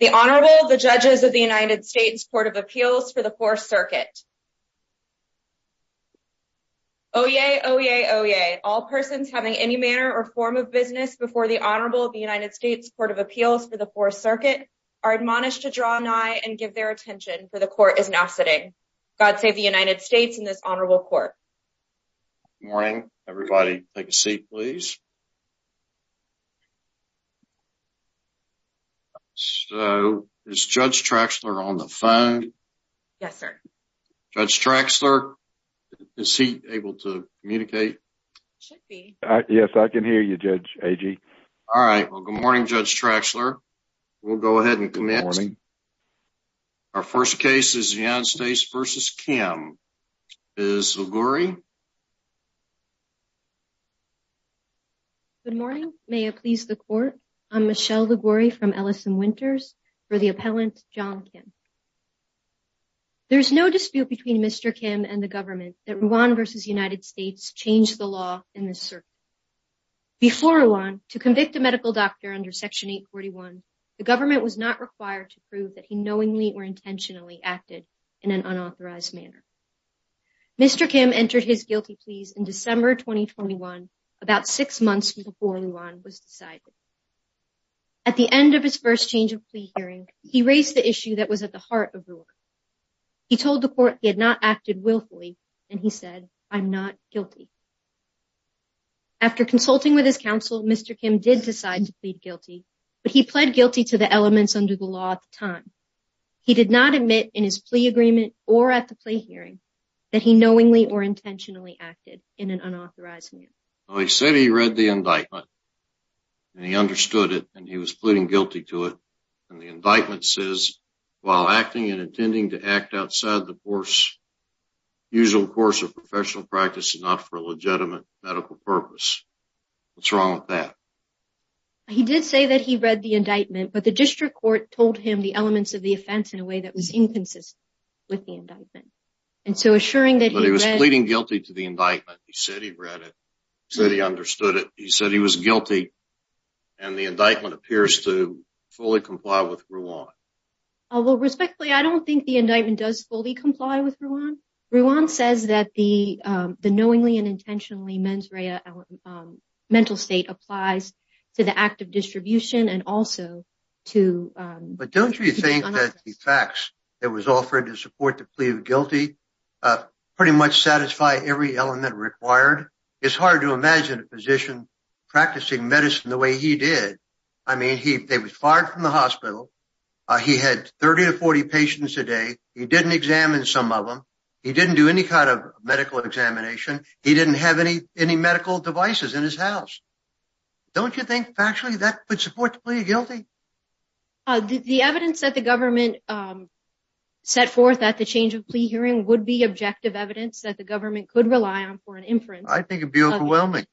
The Honorable, the Judges of the United States Court of Appeals for the 4th Circuit. Oyez! Oyez! Oyez! All persons having any manner or form of business before the Honorable of the United States Court of Appeals for the 4th Circuit are admonished to draw nigh and give their attention, for the Court is now sitting. God save the United States and this Honorable Court. Good morning, everybody. Take a seat, please. So, is Judge Traxler on the phone? Yes, sir. Judge Traxler, is he able to communicate? Should be. Yes, I can hear you, Judge Agee. All right, well, good morning, Judge Traxler. We'll go ahead and commence. Good morning. Our first case is the United States v. Kim. Ms. Liguori? Good morning. May it please the Court, I'm Michelle Liguori from Ellison Winters for the appellant, Jong Kim. There is no dispute between Mr. Kim and the government that Rwan v. United States changed the law in this circuit. Before Rwan, to convict a medical doctor under Section 841, the government was not required to prove that he knowingly or intentionally acted in an unauthorized manner. Mr. Kim entered his guilty pleas in December 2021, about six months before Rwan was decided. At the end of his first change of plea hearing, he raised the issue that was at the heart of Rwan. He told the Court he had not acted willfully, and he said, I'm not guilty. After consulting with his counsel, Mr. Kim did decide to plead guilty, but he pled guilty to the elements under the law at the time. He did not admit in his plea agreement or at the plea hearing that he knowingly or intentionally acted in an unauthorized manner. Well, he said he read the indictment, and he understood it, and he was pleading guilty to it. And the indictment says, while acting and intending to act outside the usual course of professional practice is not for a legitimate medical purpose. What's wrong with that? He did say that he read the indictment, but the District Court told him the elements of the offense in a way that was inconsistent with the indictment. But he was pleading guilty to the indictment. He said he read it. He said he understood it. He said he was guilty, and the indictment appears to fully comply with Rwan. Well, respectfully, I don't think the indictment does fully comply with Rwan. Rwan says that the knowingly and intentionally mental state applies to the act of distribution and also to- But don't you think that the facts that was offered to support the plea of guilty pretty much satisfy every element required? It's hard to imagine a physician practicing medicine the way he did. I mean, they were fired from the hospital. He had 30 to 40 patients a day. He didn't examine some of them. He didn't do any kind of medical examination. He didn't have any medical devices in his house. Don't you think, factually, that would support the plea of guilty? The evidence that the government set forth at the change of plea hearing would be objective evidence that the government could rely on for an inference. I think it would be overwhelming.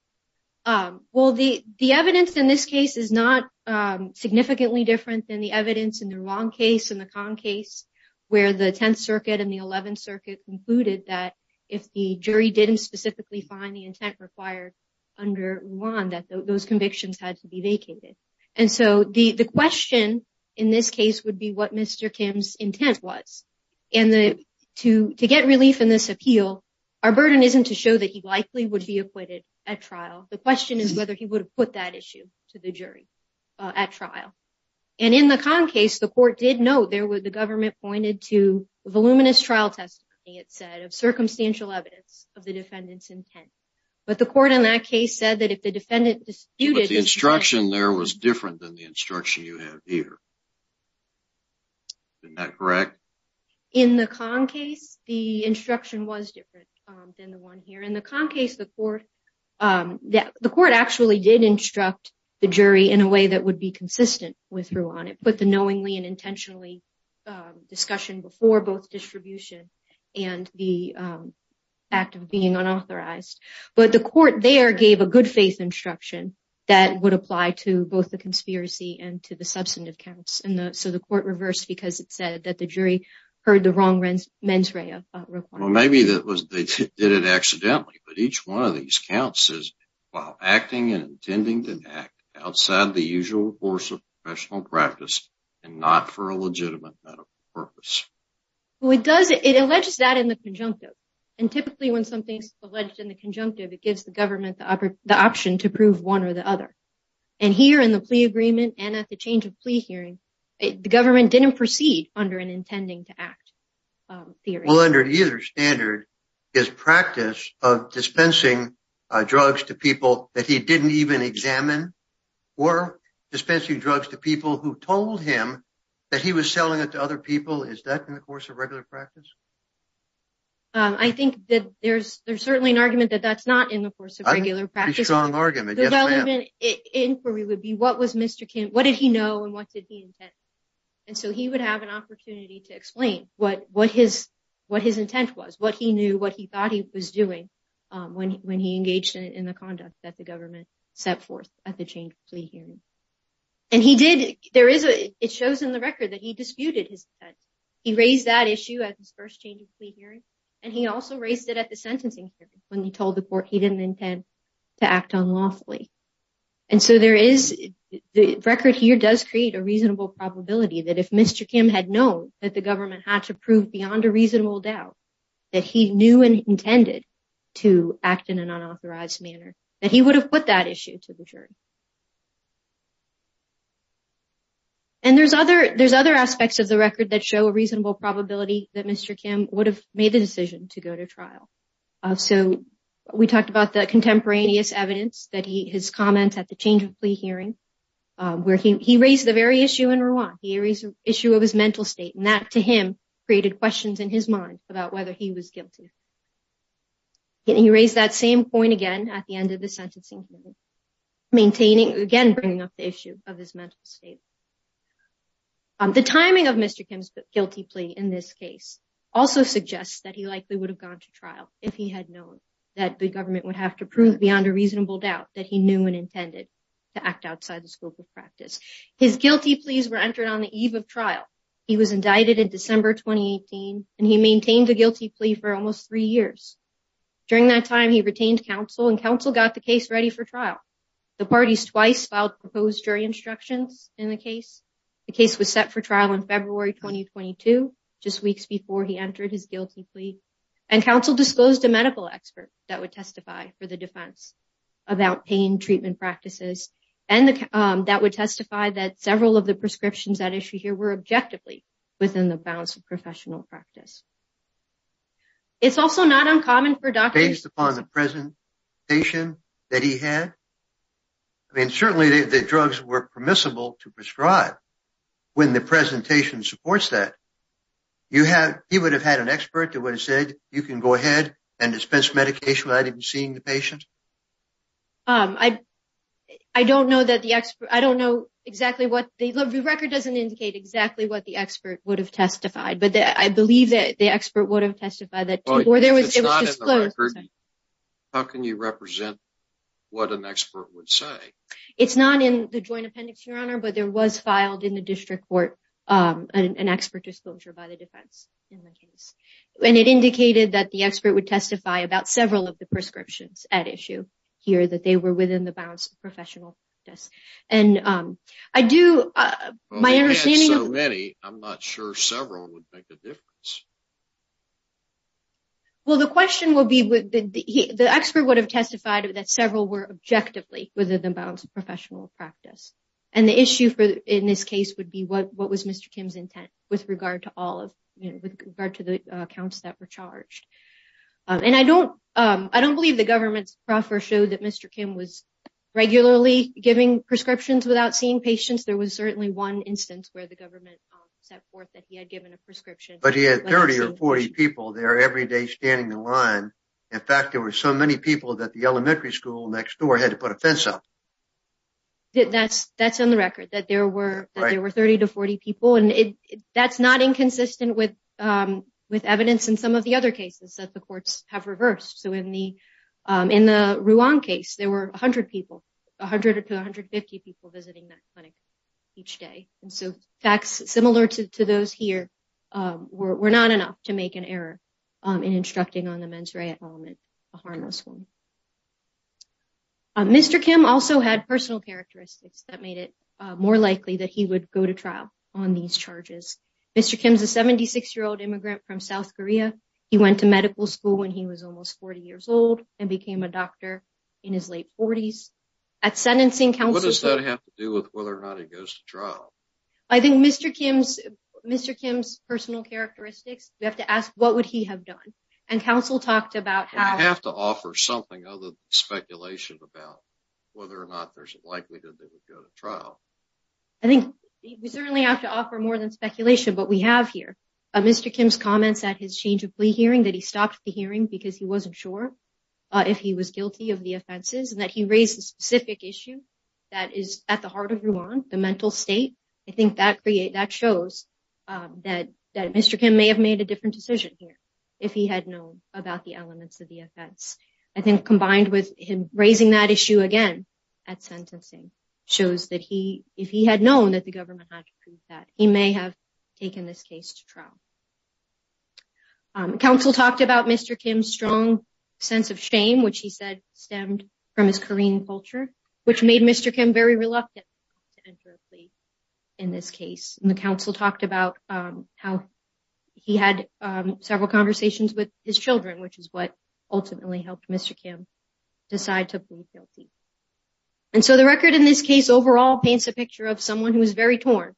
Well, the evidence in this case is not significantly different than the evidence in the Rwan case and the Kahn case, where the 10th Circuit and the 11th Circuit concluded that if the jury didn't specifically find the intent required under Rwan, that those convictions had to be vacated. And so the question in this case would be what Mr. Kim's intent was. And to get relief in this appeal, our burden isn't to show that he likely would be acquitted at trial. The question is whether he would have put that issue to the jury at trial. And in the Kahn case, the court did note that the government pointed to voluminous trial testimony, it said, of circumstantial evidence of the defendant's intent. But the court in that case said that if the defendant disputed... But the instruction there was different than the instruction you have here. Isn't that correct? In the Kahn case, the instruction was different than the one here. In the Kahn case, the court actually did instruct the jury in a way that would be consistent. But the knowingly and intentionally discussion before both distribution and the act of being unauthorized. But the court there gave a good faith instruction that would apply to both the conspiracy and to the substantive counts. So the court reversed because it said that the jury heard the wrong mens rea requirement. Well, maybe they did it accidentally. But each one of these counts says, while acting and intending to act outside the usual course of professional practice and not for a legitimate medical purpose. Well, it does. It alleges that in the conjunctive. And typically, when something's alleged in the conjunctive, it gives the government the option to prove one or the other. And here in the plea agreement and at the change of plea hearing, the government didn't proceed under an intending to act theory. Well, under either standard, his practice of dispensing drugs to people that he didn't even examine or dispensing drugs to people who told him that he was selling it to other people. Is that in the course of regular practice? I think that there's there's certainly an argument that that's not in the course of regular practice. Strong argument. Development inquiry would be what was Mr. Kim, what did he know and what did he intend? And so he would have an opportunity to explain what what his what his intent was, what he engaged in, in the conduct that the government set forth at the change plea hearing. And he did. There is a it shows in the record that he disputed his. He raised that issue at his first change of plea hearing, and he also raised it at the sentencing when he told the court he didn't intend to act on lawfully. And so there is the record here does create a reasonable probability that if Mr. Kim had known that the government had to prove beyond a reasonable doubt that he knew and that he would have put that issue to the jury. And there's other there's other aspects of the record that show a reasonable probability that Mr. Kim would have made the decision to go to trial. So we talked about the contemporaneous evidence that he his comments at the change of plea hearing where he raised the very issue in Rwanda. Here is an issue of his mental state and that to him created questions in his mind about whether he was guilty. He raised that same point again at the end of the sentencing, maintaining again bringing up the issue of his mental state. The timing of Mr. Kim's guilty plea in this case also suggests that he likely would have gone to trial if he had known that the government would have to prove beyond a reasonable doubt that he knew and intended to act outside the scope of practice. His guilty pleas were entered on the eve of trial. He was indicted in December 2018 and he maintained the guilty plea for almost three years. During that time, he retained counsel and counsel got the case ready for trial. The parties twice filed proposed jury instructions in the case. The case was set for trial in February 2022, just weeks before he entered his guilty plea. And counsel disclosed a medical expert that would testify for the defense about pain treatment practices and that would testify that several of the prescriptions that issue here were objectively within the bounds of professional practice. It's also not uncommon for doctors... Based upon the presentation that he had? I mean, certainly the drugs were permissible to prescribe. When the presentation supports that, he would have had an expert that would have said, you can go ahead and dispense medication without even seeing the patient? I don't know that the expert... I don't know exactly what... The record doesn't indicate exactly what the expert would have testified, but I believe that the expert would have testified that... If it's not in the record, how can you represent what an expert would say? It's not in the joint appendix, Your Honor, but there was filed in the district court an expert disclosure by the defense in the case. And it indicated that the expert would testify about several of the prescriptions at issue here, that they were within the bounds of professional practice. And I do... Well, they had so many, I'm not sure several would make a difference. Well, the question would be... The expert would have testified that several were objectively within the bounds of professional practice. And the issue in this case would be what was Mr. Kim's intent with regard to all of... With regard to the accounts that were charged. And I don't believe the government's proffer showed that Mr. Kim was regularly giving prescriptions without seeing patients. There was certainly one instance where the government set forth that he had given a prescription. But he had 30 or 40 people there every day standing in line. In fact, there were so many people that the elementary school next door had to put a fence up. That's on the record, that there were 30 to 40 people. And that's not inconsistent with evidence in some of the other cases that the courts have reversed. So in the Ruan case, there were 100 people, 100 to 150 people visiting that clinic each day. And so facts similar to those here were not enough to make an error in instructing on the mens rea element, a harmless one. Mr. Kim also had personal characteristics that made it more likely that he would go to trial on these charges. Mr. Kim's a 76-year-old immigrant from South Korea. He went to medical school when he was almost 40 years old and became a doctor in his late 40s. At sentencing counsel... What does that have to do with whether or not he goes to trial? I think Mr. Kim's personal characteristics, we have to ask what would he have done? And counsel talked about how... There's nothing other than speculation about whether or not there's a likelihood that he would go to trial. I think we certainly have to offer more than speculation, but we have here. Mr. Kim's comments at his change of plea hearing, that he stopped the hearing because he wasn't sure if he was guilty of the offenses, and that he raised a specific issue that is at the heart of Ruan, the mental state. I think that shows that Mr. Kim may have made a different decision here if he had known about the elements of the offense. I think combined with him raising that issue again at sentencing shows that if he had known that the government had to prove that, he may have taken this case to trial. Counsel talked about Mr. Kim's strong sense of shame, which he said stemmed from his Korean culture, which made Mr. Kim very reluctant to enter a plea in this case. And the counsel talked about how he had several conversations with his children, which is what ultimately helped Mr. Kim decide to plead guilty. And so the record in this case overall paints a picture of someone who is very torn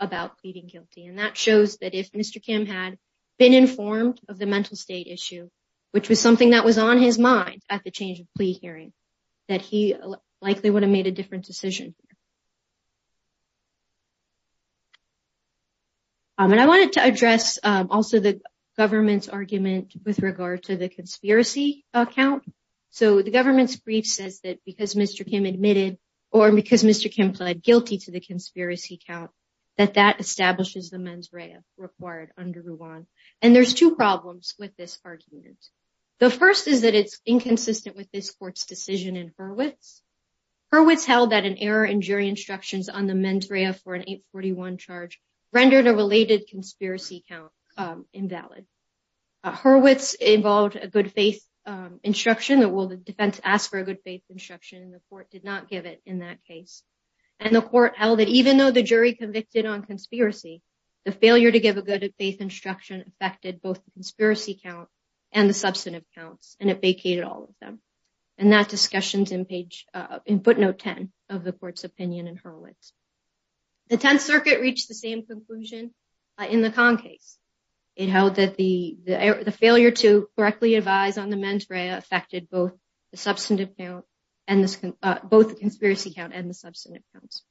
about pleading guilty, and that shows that if Mr. Kim had been informed of the mental state issue, which was something that was on his mind at the change of plea hearing, that he likely would have made a different decision. And I wanted to address also the government's argument with regard to the conspiracy count. So the government's brief says that because Mr. Kim admitted or because Mr. Kim pled guilty to the conspiracy count, that that establishes the mens rea required under Ruan. And there's two problems with this argument. The first is that it's inconsistent with this court's decision in Hurwitz. Hurwitz held that an error in jury instructions on the mens rea for an 841 charge rendered a related conspiracy count invalid. Hurwitz involved a good faith instruction that will the defense ask for a good faith instruction, and the court did not give it in that case. And the court held that even though the jury convicted on conspiracy, the failure to give a good faith instruction affected both the conspiracy count and the substantive counts, and it vacated all of them. And that discussion is in footnote 10 of the court's opinion in Hurwitz. The Tenth Circuit reached the same conclusion in the Kahn case. It held that the failure to correctly advise on the mens rea affected both the conspiracy count and the substantive counts.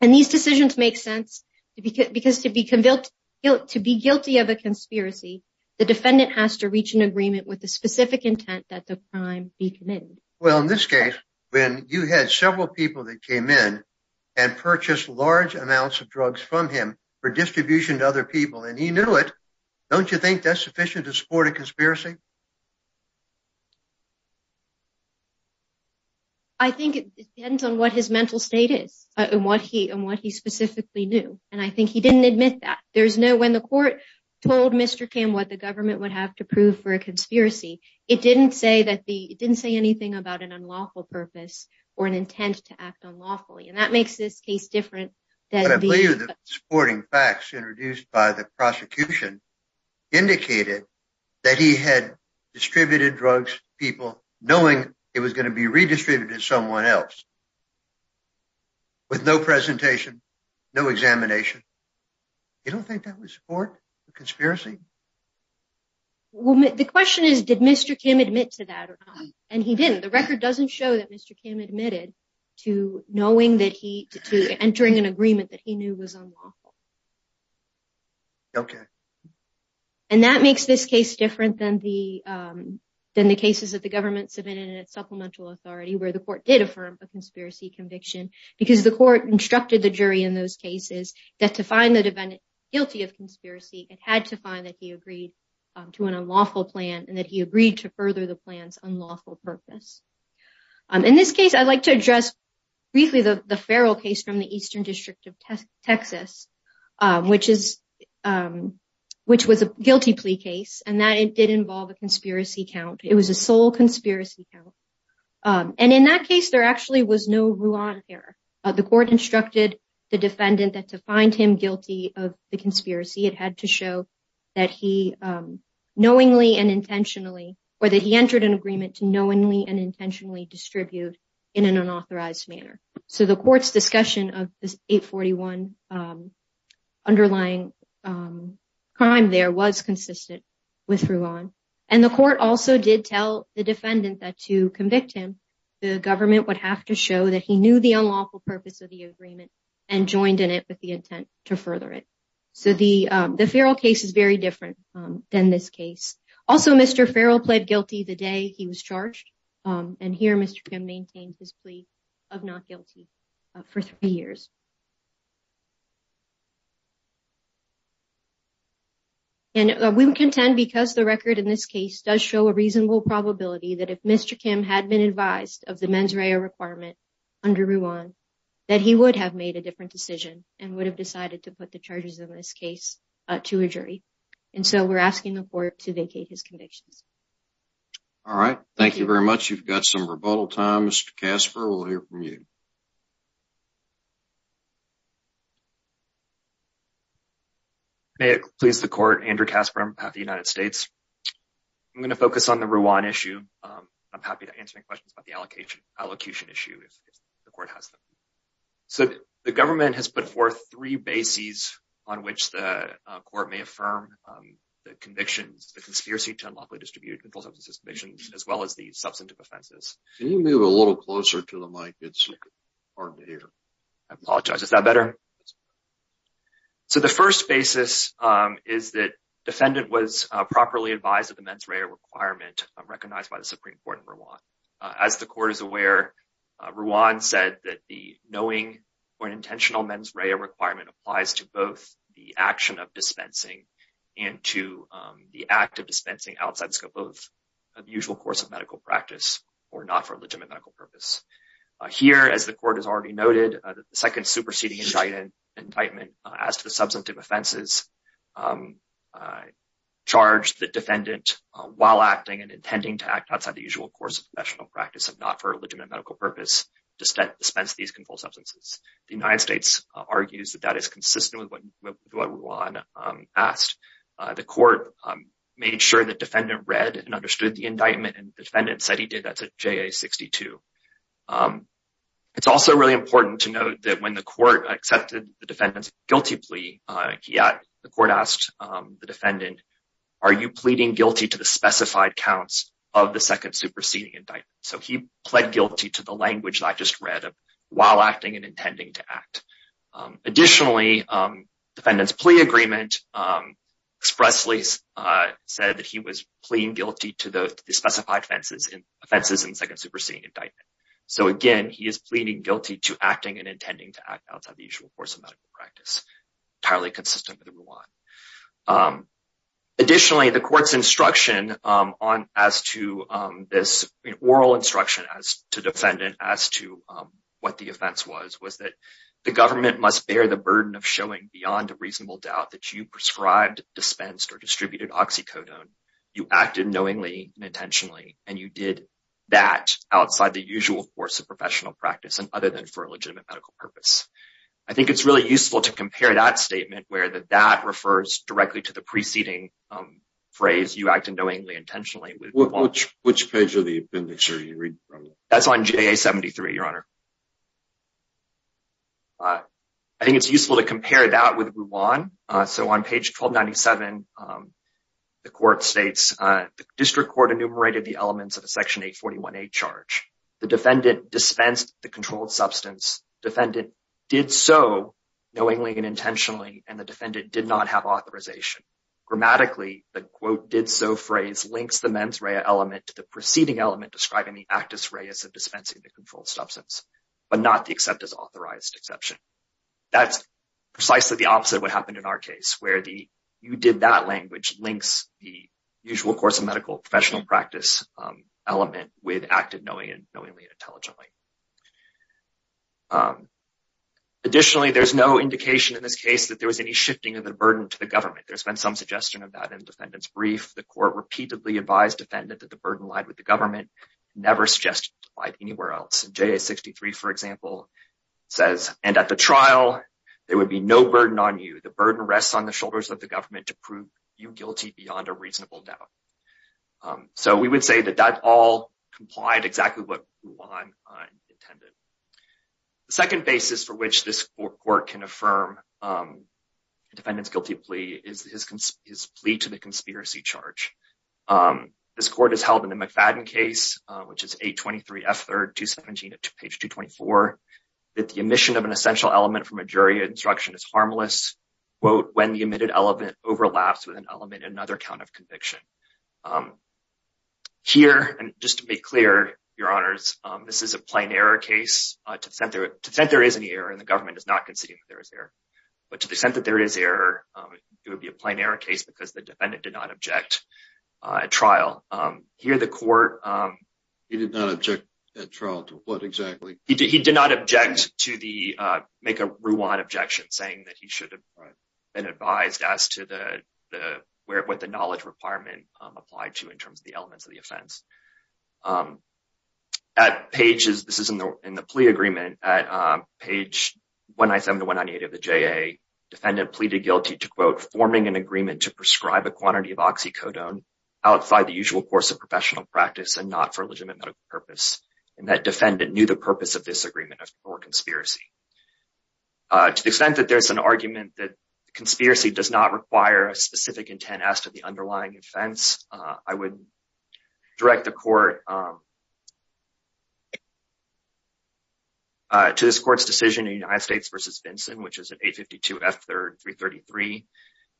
And these decisions make sense because to be guilty of a conspiracy, the defendant has to reach an agreement with the specific intent that the crime be committed. Well, in this case, when you had several people that came in and purchased large amounts of drugs from him for distribution to other people, and he knew it, don't you think that's sufficient to support a conspiracy? I think it depends on what his mental state is and what he specifically knew. And I think he didn't admit that. When the court told Mr. Kim what the government would have to prove for a conspiracy, it didn't say anything about an unlawful purpose or an intent to act unlawfully. And that makes this case different. The supporting facts introduced by the prosecution indicated that he had distributed drugs to people knowing it was going to be redistributed to someone else with no presentation, no examination. You don't think that would support a conspiracy? Well, the question is, did Mr. Kim admit to that? The record doesn't show that Mr. Kim admitted to entering an agreement that he knew was unlawful. And that makes this case different than the cases that the government submitted at supplemental authority where the court did affirm a conspiracy conviction because the court instructed the jury in those cases that to find the defendant guilty of conspiracy, it had to find that he agreed to an unlawful plan and that he agreed to further the plan's unlawful purpose. In this case, I'd like to address briefly the Farrell case from the Eastern District of Texas, which was a guilty plea case, and that it did involve a conspiracy count. It was a sole conspiracy count. And in that case, there actually was no Rouen error. The court instructed the defendant that to find him guilty of the conspiracy, it had to show that he knowingly and intentionally or that he entered an agreement to knowingly and intentionally distribute in an unauthorized manner. So the court's discussion of this 841 underlying crime there was consistent with Rouen. And the court also did tell the defendant that to convict him, the government would have to show that he knew the unlawful purpose of the agreement and joined in it with the intent to further it. So the Farrell case is very different than this case. Also, Mr. Farrell pled guilty the day he was charged. And here Mr. Kim maintains his plea of not guilty for three years. And we would contend because the record in this case does show a reasonable probability that if Mr. Kim had been advised of the mens rea requirement under Rouen, that he would have made a different decision and would have decided to put the charges in this case to a jury. And so we're asking the court to vacate his convictions. All right. Thank you very much. You've got some rebuttal time, Mr. Casper. We'll hear from you. Please, the court, Andrew Casper of the United States. I'm going to focus on the Rouen issue. I'm happy to answer any questions about the allocation issue if the court has them. So the government has put forth three bases on which the court may affirm the convictions, the conspiracy to unlawfully distribute mental substances convictions, as well as the substantive offenses. Can you move a little closer to the mic? It's hard to hear. I apologize. Is that better? So the first basis is that defendant was properly advised of the mens rea requirement recognized by the Supreme Court in Rouen. As the court is aware, Rouen said that the knowing or intentional mens rea requirement applies to both the action of dispensing and to the act of dispensing outside the scope of the usual course of medical practice or not for legitimate medical purpose. Here, as the court has already noted, the second superseding indictment as to the substantive offenses, charged the defendant while acting and intending to act outside the usual course of professional practice and not for legitimate medical purpose to dispense these controlled substances. The United States argues that that is consistent with what Rouen asked. The court made sure the defendant read and understood the indictment, and the defendant said he did. That's a JA-62. It's also really important to note that when the court accepted the defendant's guilty plea, the court asked the defendant, are you pleading guilty to the specified counts of the second superseding indictment? So he pled guilty to the language that I just read of while acting and intending to act. Additionally, the defendant's plea agreement expressly said that he was pleading guilty to the specified offenses in the second superseding indictment. So, again, he is pleading guilty to acting and intending to act outside the usual course of medical practice. Entirely consistent with Rouen. Additionally, the court's oral instruction to the defendant as to what the offense was, was that the government must bear the burden of showing beyond a reasonable doubt that you prescribed, dispensed, or distributed oxycodone. You acted knowingly and intentionally, and you did that outside the usual course of professional practice and other than for a legitimate medical purpose. I think it's really useful to compare that statement where that refers directly to the preceding phrase, you acted knowingly and intentionally. Which page of the appendix are you reading from? That's on JA-73, Your Honor. I think it's useful to compare that with Rouen. So on page 1297, the court states, the district court enumerated the elements of a Section 841A charge. The defendant dispensed the controlled substance. Defendant did so knowingly and intentionally. And the defendant did not have authorization. Grammatically, the quote did so phrase links the mens rea element to the preceding element describing the actus reas of dispensing the controlled substance. But not the except as authorized exception. That's precisely the opposite of what happened in our case, where the you did that language links the usual course of medical professional practice element with acted knowingly and intelligently. Additionally, there's no indication in this case that there was any shifting of the burden to the government. There's been some suggestion of that in the defendant's brief. The court repeatedly advised defendant that the burden lied with the government, never suggested it lied anywhere else. J.A. 63, for example, says, and at the trial, there would be no burden on you. The burden rests on the shoulders of the government to prove you guilty beyond a reasonable doubt. So we would say that that all complied exactly what Rouen intended. The second basis for which this court can affirm defendant's guilty plea is his plea to the conspiracy charge. This court has held in the McFadden case, which is a 23 effort to 17 to page 224, that the emission of an essential element from a jury instruction is harmless. Well, when the emitted element overlaps with an element, another count of conviction. Here, and just to be clear, your honors, this is a plain error case to center to center is an error. And the government is not conceding that there is error. But to the extent that there is error, it would be a plain error case because the defendant did not object. A trial here, the court, he did not object at trial to what exactly he did. He did not object to the make a Rouen objection, saying that he should have been advised as to the where what the knowledge requirement applied to in terms of the elements of the offense. At pages, this is in the plea agreement at page 197 to 198 of the J.A. Defendant pleaded guilty to, quote, forming an agreement to prescribe a quantity of oxycodone outside the usual course of professional practice and not for legitimate medical purpose. And that defendant knew the purpose of this agreement or conspiracy. To the extent that there's an argument that conspiracy does not require a specific intent as to the underlying offense. I would direct the court. To this court's decision, the United States versus Vincent, which is an 852 F333.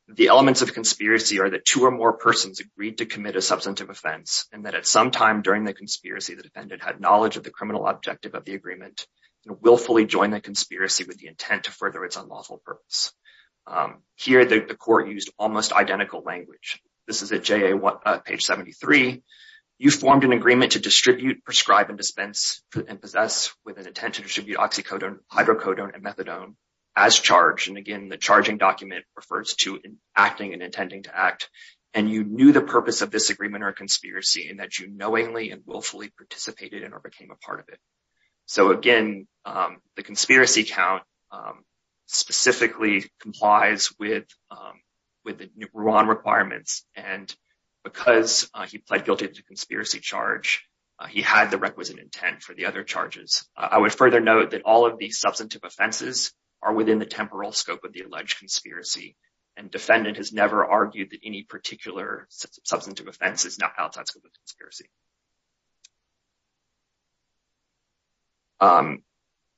The elements of conspiracy are that two or more persons agreed to commit a substantive offense and that at some time during the conspiracy, the defendant had knowledge of the criminal objective of the agreement and willfully join the conspiracy with the intent to further its unlawful purpose. Here, the court used almost identical language. This is a J.A. page 73. You formed an agreement to distribute, prescribe and dispense and possess with an intent to distribute oxycodone, hydrocodone and methadone as charged. And again, the charging document refers to acting and intending to act. And you knew the purpose of this agreement or conspiracy and that you knowingly and willfully participated in or became a part of it. So, again, the conspiracy count specifically complies with with the new requirements. And because he pled guilty to conspiracy charge, he had the requisite intent for the other charges. I would further note that all of these substantive offenses are within the temporal scope of the alleged conspiracy. And defendant has never argued that any particular substantive offense is not outside the scope of the conspiracy.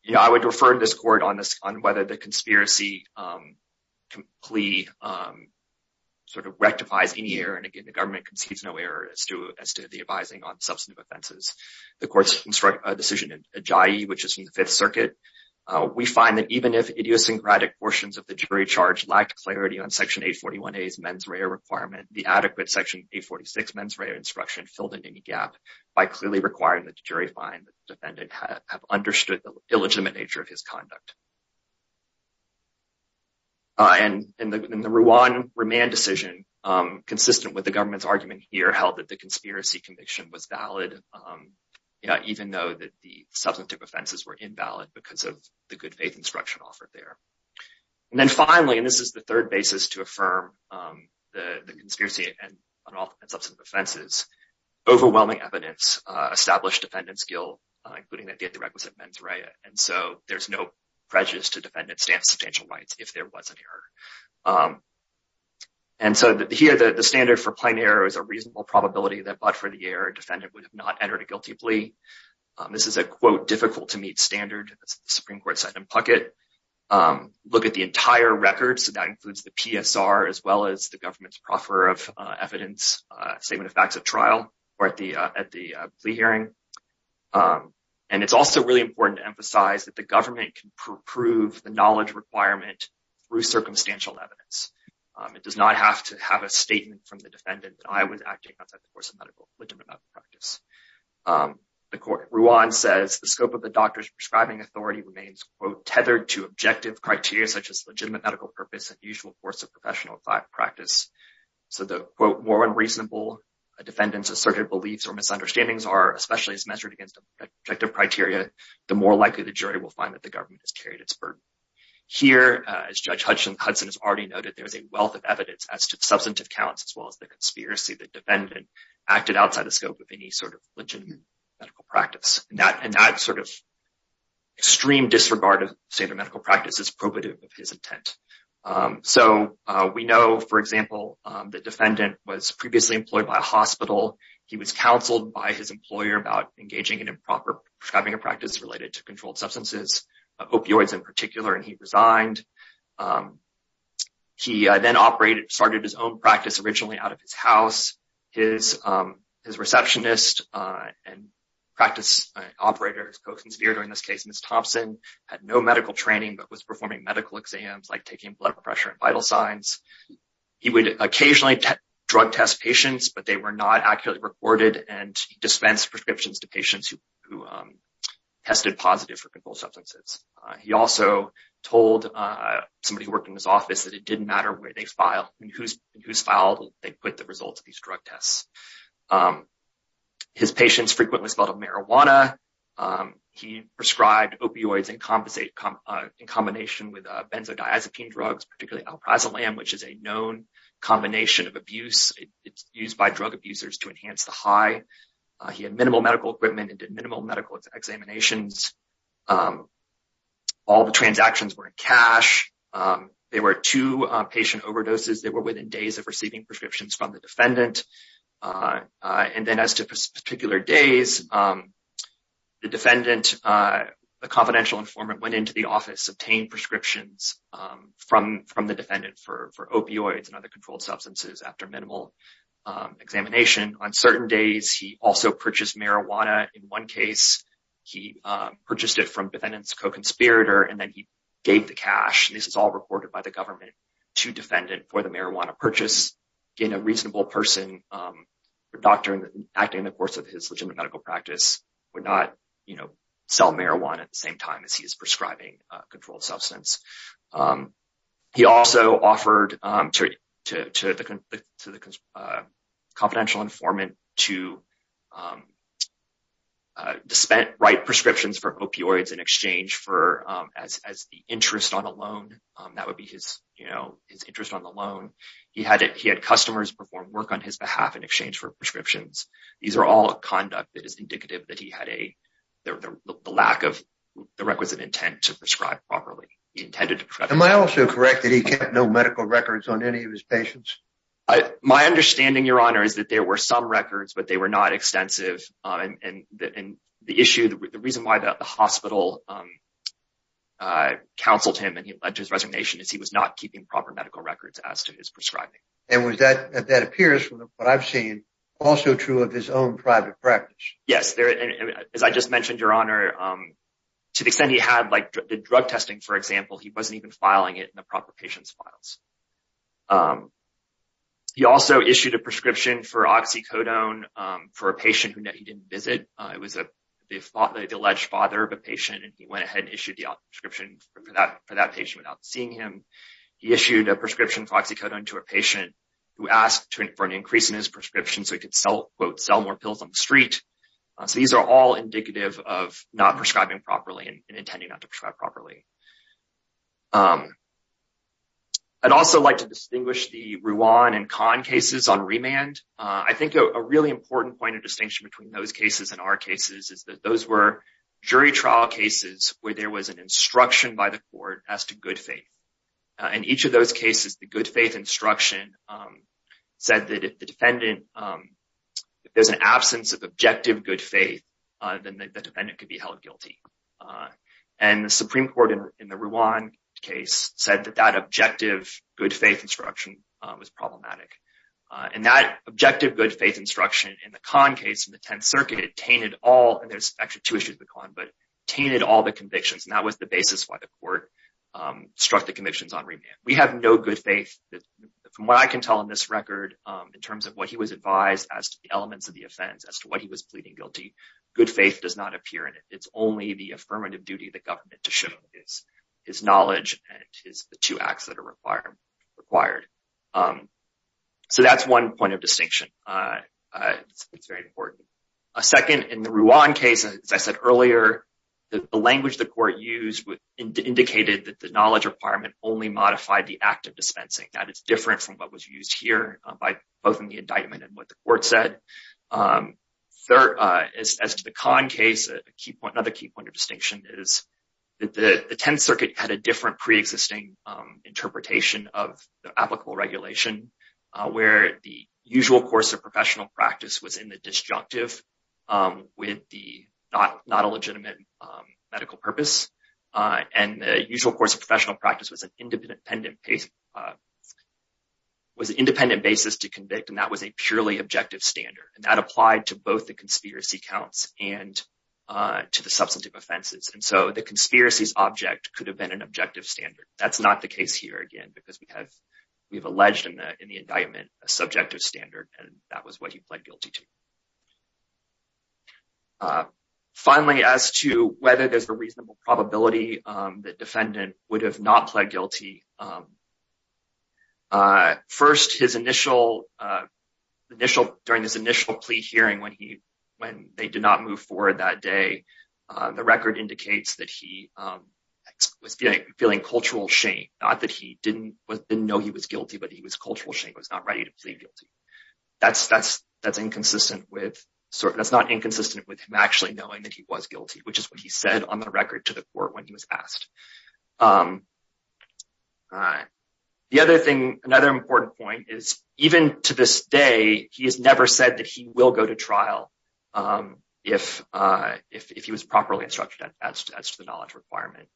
You know, I would refer to this court on this on whether the conspiracy plea sort of rectifies any error. And again, the government concedes no error as to as to the advising on substantive offenses. The court's decision in Ajayi, which is in the Fifth Circuit. We find that even if idiosyncratic portions of the jury charge lacked clarity on Section 841A's mens rea requirement, the adequate Section 846 mens rea instruction filled in any gap by clearly requiring the jury find the defendant have understood the illegitimate nature of his conduct. And in the Rwan remand decision, consistent with the government's argument here, held that the conspiracy conviction was valid, even though that the substantive offenses were invalid because of the good faith instruction offered there. And then finally, and this is the third basis to affirm the conspiracy and substantive offenses, overwhelming evidence established defendant's guilt, including that they had the requisite mens rea. And so there's no prejudice to defendant's substantial rights if there was an error. And so here, the standard for plain error is a reasonable probability that but for the error, defendant would have not entered a guilty plea. This is a, quote, difficult to meet standard. The Supreme Court said in Puckett, look at the entire record. So that includes the PSR as well as the government's proffer of evidence, statement of facts at trial or at the plea hearing. And it's also really important to emphasize that the government can prove the knowledge requirement through circumstantial evidence. It does not have to have a statement from the defendant. I was acting outside the course of medical practice. The court Rwan says the scope of the doctor's prescribing authority remains, quote, tethered to objective criteria such as legitimate medical purpose and usual course of professional practice. So the quote, more unreasonable a defendant's asserted beliefs or misunderstandings are, especially as measured against objective criteria, the more likely the jury will find that the government has carried its burden. Here, as Judge Hudson has already noted, there is a wealth of evidence as to substantive counts, as well as the conspiracy that defendant acted outside the scope of any sort of legitimate medical practice. And that sort of extreme disregard of standard medical practice is probative of his intent. So we know, for example, the defendant was previously employed by a hospital. He was counseled by his employer about engaging in improper prescribing of practice related to controlled substances, opioids in particular. And he resigned. He then operated, started his own practice originally out of his house. His his receptionist and practice operator, his co-conspirator in this case, Ms. Thompson, had no medical training, but was performing medical exams like taking blood pressure and vital signs. He would occasionally drug test patients, but they were not accurately recorded. And dispense prescriptions to patients who who tested positive for controlled substances. He also told somebody who worked in his office that it didn't matter where they file and who's who's filed. They put the results of these drug tests. His patients frequently spelled out marijuana. He prescribed opioids and compensate in combination with benzodiazepine drugs, particularly alprazolam, which is a known combination of abuse used by drug abusers to enhance the high. He had minimal medical equipment and did minimal medical examinations. All the transactions were in cash. There were two patient overdoses that were within days of receiving prescriptions from the defendant. And then as to particular days, the defendant, a confidential informant, went into the office, obtained prescriptions from from the defendant for opioids and other controlled substances. After minimal examination on certain days, he also purchased marijuana. In one case, he purchased it from defendants, co-conspirator, and then he gave the cash. This is all reported by the government to defendant for the marijuana purchase in a reasonable person. The doctor acting in the course of his legitimate medical practice would not sell marijuana at the same time as he is prescribing controlled substance. He also offered to the confidential informant to write prescriptions for opioids in exchange for as the interest on a loan. That would be his interest on the loan. He had customers perform work on his behalf in exchange for prescriptions. These are all conduct that is indicative that he had a lack of the requisite intent to prescribe properly intended. Am I also correct that he kept no medical records on any of his patients? My understanding, Your Honor, is that there were some records, but they were not extensive. And the issue, the reason why the hospital counseled him and his resignation is he was not keeping proper medical records as to his prescribing. And that appears, from what I've seen, also true of his own private practice. Yes. As I just mentioned, Your Honor, to the extent he had the drug testing, for example, he wasn't even filing it in the proper patient's files. He also issued a prescription for oxycodone for a patient who he didn't visit. It was the alleged father of a patient, and he went ahead and issued the prescription for that patient without seeing him. He issued a prescription for oxycodone to a patient who asked for an increase in his prescription so he could sell, quote, sell more pills on the street. So these are all indicative of not prescribing properly and intending not to prescribe properly. I'd also like to distinguish the Ruan and Khan cases on remand. I think a really important point of distinction between those cases and our cases is that those were jury trial cases where there was an instruction by the court as to good faith. In each of those cases, the good faith instruction said that if the defendant, if there's an absence of objective good faith, then the defendant could be held guilty. And the Supreme Court in the Ruan case said that that objective good faith instruction was problematic. And that objective good faith instruction in the Khan case in the Tenth Circuit tainted all, and there's actually two issues with Khan, but tainted all the convictions. And that was the basis why the court struck the convictions on remand. We have no good faith. From what I can tell in this record, in terms of what he was advised as to the elements of the offense, as to what he was pleading guilty, good faith does not appear in it. It's only the affirmative duty of the government to show his knowledge and the two acts that are required. So that's one point of distinction. It's very important. Second, in the Ruan case, as I said earlier, the language the court used indicated that the knowledge requirement only modified the act of dispensing. That is different from what was used here by both in the indictment and what the court said. Third, as to the Khan case, another key point of distinction is that the Tenth Circuit had a different pre-existing interpretation of the applicable regulation, where the usual course of professional practice was in the disjunctive with the not a legitimate medical purpose. And the usual course of professional practice was an independent basis to convict, and that was a purely objective standard. And that applied to both the conspiracy counts and to the substantive offenses. And so the conspiracy's object could have been an objective standard. That's not the case here, again, because we have alleged in the indictment a subjective standard, and that was what he pled guilty to. Finally, as to whether there's a reasonable probability that defendant would have not pled guilty, first, during his initial plea hearing when they did not move forward that day, the record indicates that he was feeling cultural shame. Not that he didn't know he was guilty, but he was cultural shame. He was not ready to plead guilty. That's not inconsistent with him actually knowing that he was guilty, which is what he said on the record to the court when he was asked. Another important point is, even to this day, he has never said that he will go to trial if he was properly instructed as to the knowledge requirement.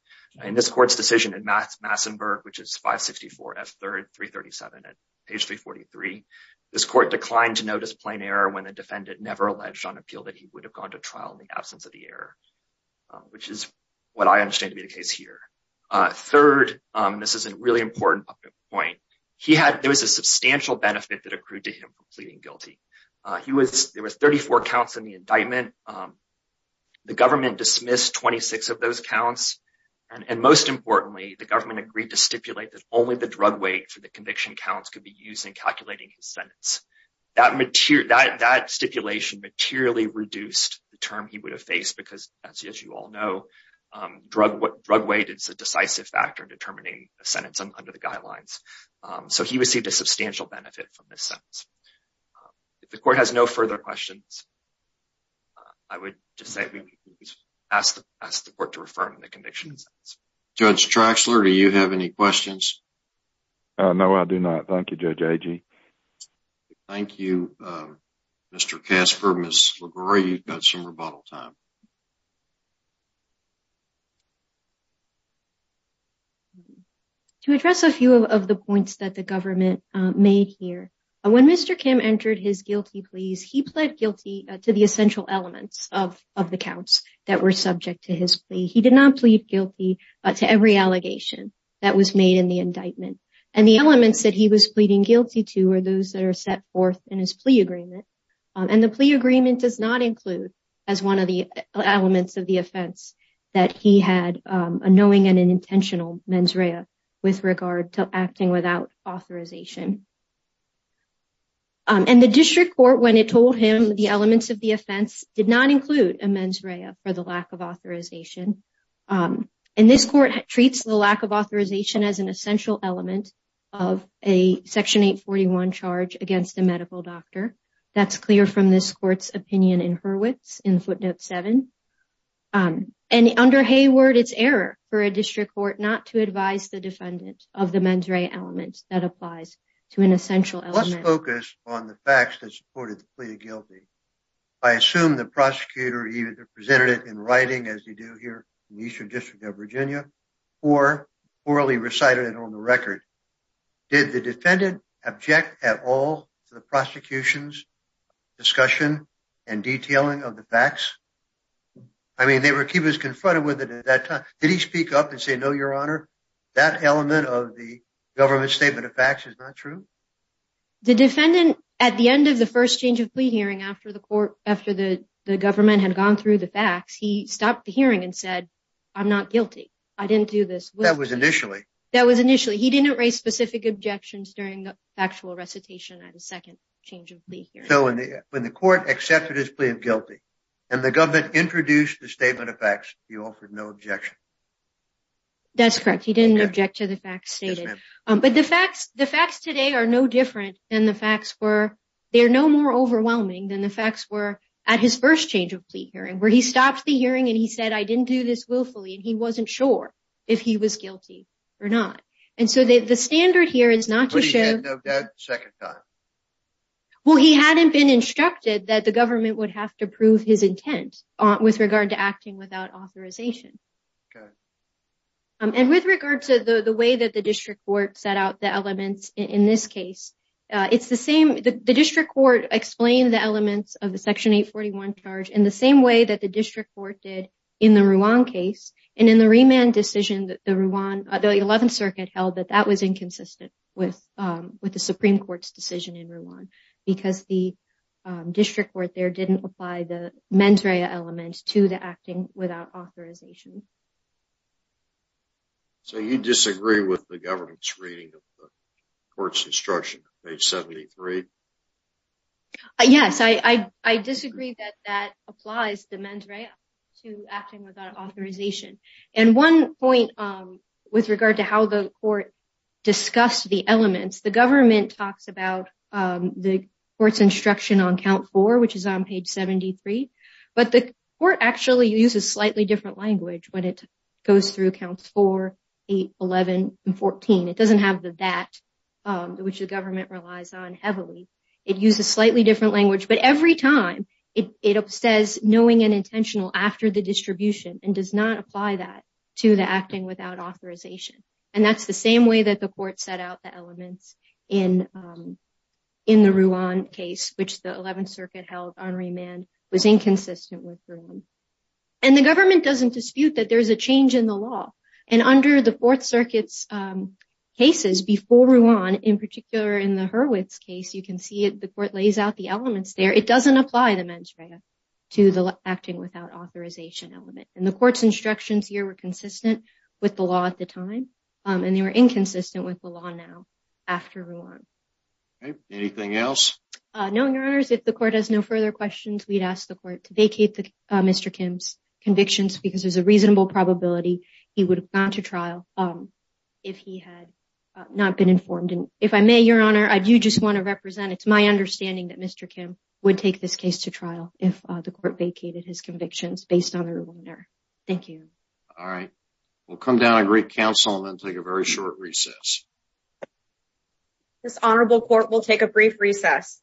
In this court's decision in Massenburg, which is 564 F. 3rd 337 at page 343, this court declined to notice plain error when the defendant never alleged on appeal that he would have gone to trial in the absence of the error, which is what I understand to be the case here. Third, this is a really important point. There was a substantial benefit that accrued to him for pleading guilty. There was 34 counts in the indictment. The government dismissed 26 of those counts. And most importantly, the government agreed to stipulate that only the drug weight for the conviction counts could be used in calculating his sentence. That stipulation materially reduced the term he would have faced because, as you all know, drug weight is a decisive factor in determining a sentence under the guidelines. So he received a substantial benefit from this sentence. If the court has no further questions, I would just say we ask the court to refer him to the conviction. Judge Traxler, do you have any questions? No, I do not. Thank you, Judge Agee. Thank you, Mr. Kasper, Ms. LaGuerre. You've got some rebuttal time. To address a few of the points that the government made here, when Mr. Kim entered his guilty pleas, he pled guilty to the essential elements of the counts that were subject to his plea. He did not plead guilty to every allegation that was made in the indictment. And the elements that he was pleading guilty to are those that are set forth in his plea agreement. And the plea agreement does not include, as one of the elements of the offense, that he had a knowing and an intentional mens rea with regard to acting without authorization. And the district court, when it told him the elements of the offense, did not include a mens rea for the lack of authorization. And this court treats the lack of authorization as an essential element of a Section 841 charge against a medical doctor. That's clear from this court's opinion in Hurwitz in Footnote 7. And under Hayward, it's error for a district court not to advise the defendant of the mens rea element that applies to an essential element. Let's focus on the facts that supported the plea of guilty. I assume the prosecutor either presented it in writing, as you do here in the Eastern District of Virginia, or orally recited it on the record. Did the defendant object at all to the prosecution's discussion and detailing of the facts? I mean, he was confronted with it at that time. Did he speak up and say, no, your honor, that element of the government statement of facts is not true? The defendant, at the end of the first change of plea hearing after the court, after the government had gone through the facts, he stopped the hearing and said, I'm not guilty. I didn't do this. That was initially. That was initially. He didn't raise specific objections during the factual recitation at the second change of plea hearing. So when the court accepted his plea of guilty and the government introduced the statement of facts, he offered no objection. That's correct. He didn't object to the facts stated. But the facts, the facts today are no different than the facts were. They are no more overwhelming than the facts were at his first change of plea hearing, where he stopped the hearing and he said, I didn't do this willfully. And he wasn't sure if he was guilty or not. And so the standard here is not to show that second time. Well, he hadn't been instructed that the government would have to prove his intent with regard to acting without authorization. And with regard to the way that the district court set out the elements in this case, it's the same. The district court explained the elements of the Section 841 charge in the same way that the district court did in the Ruan case. And in the remand decision, the Ruan, the 11th Circuit held that that was inconsistent with with the Supreme Court's decision in Ruan because the district court there didn't apply the mens rea element to the acting without authorization. So you disagree with the government's reading of the court's instruction, page 73? Yes, I disagree that that applies the mens rea to acting without authorization. And one point with regard to how the court discussed the elements, the government talks about the court's instruction on count four, which is on page 73. But the court actually uses slightly different language when it goes through counts four, eight, 11, and 14. It doesn't have the that, which the government relies on heavily. It uses slightly different language. But every time it says knowing and intentional after the distribution and does not apply that to the acting without authorization. And that's the same way that the court set out the elements in the Ruan case, which the 11th Circuit held on remand was inconsistent with Ruan. And the government doesn't dispute that there's a change in the law. And under the Fourth Circuit's cases before Ruan, in particular, in the Hurwitz case, you can see the court lays out the elements there. It doesn't apply the mens rea to the acting without authorization element. And the court's instructions here were consistent with the law at the time. And they were inconsistent with the law now after Ruan. Anything else? No, Your Honor. If the court has no further questions, we'd ask the court to vacate Mr. Kim's convictions because there's a reasonable probability he would have gone to trial if he had not been informed. And if I may, Your Honor, I do just want to represent it's my understanding that Mr. Kim would take this case to trial if the court vacated his convictions based on a reminder. Thank you. All right. We'll come down and greet counsel and then take a very short recess. This honorable court will take a brief recess.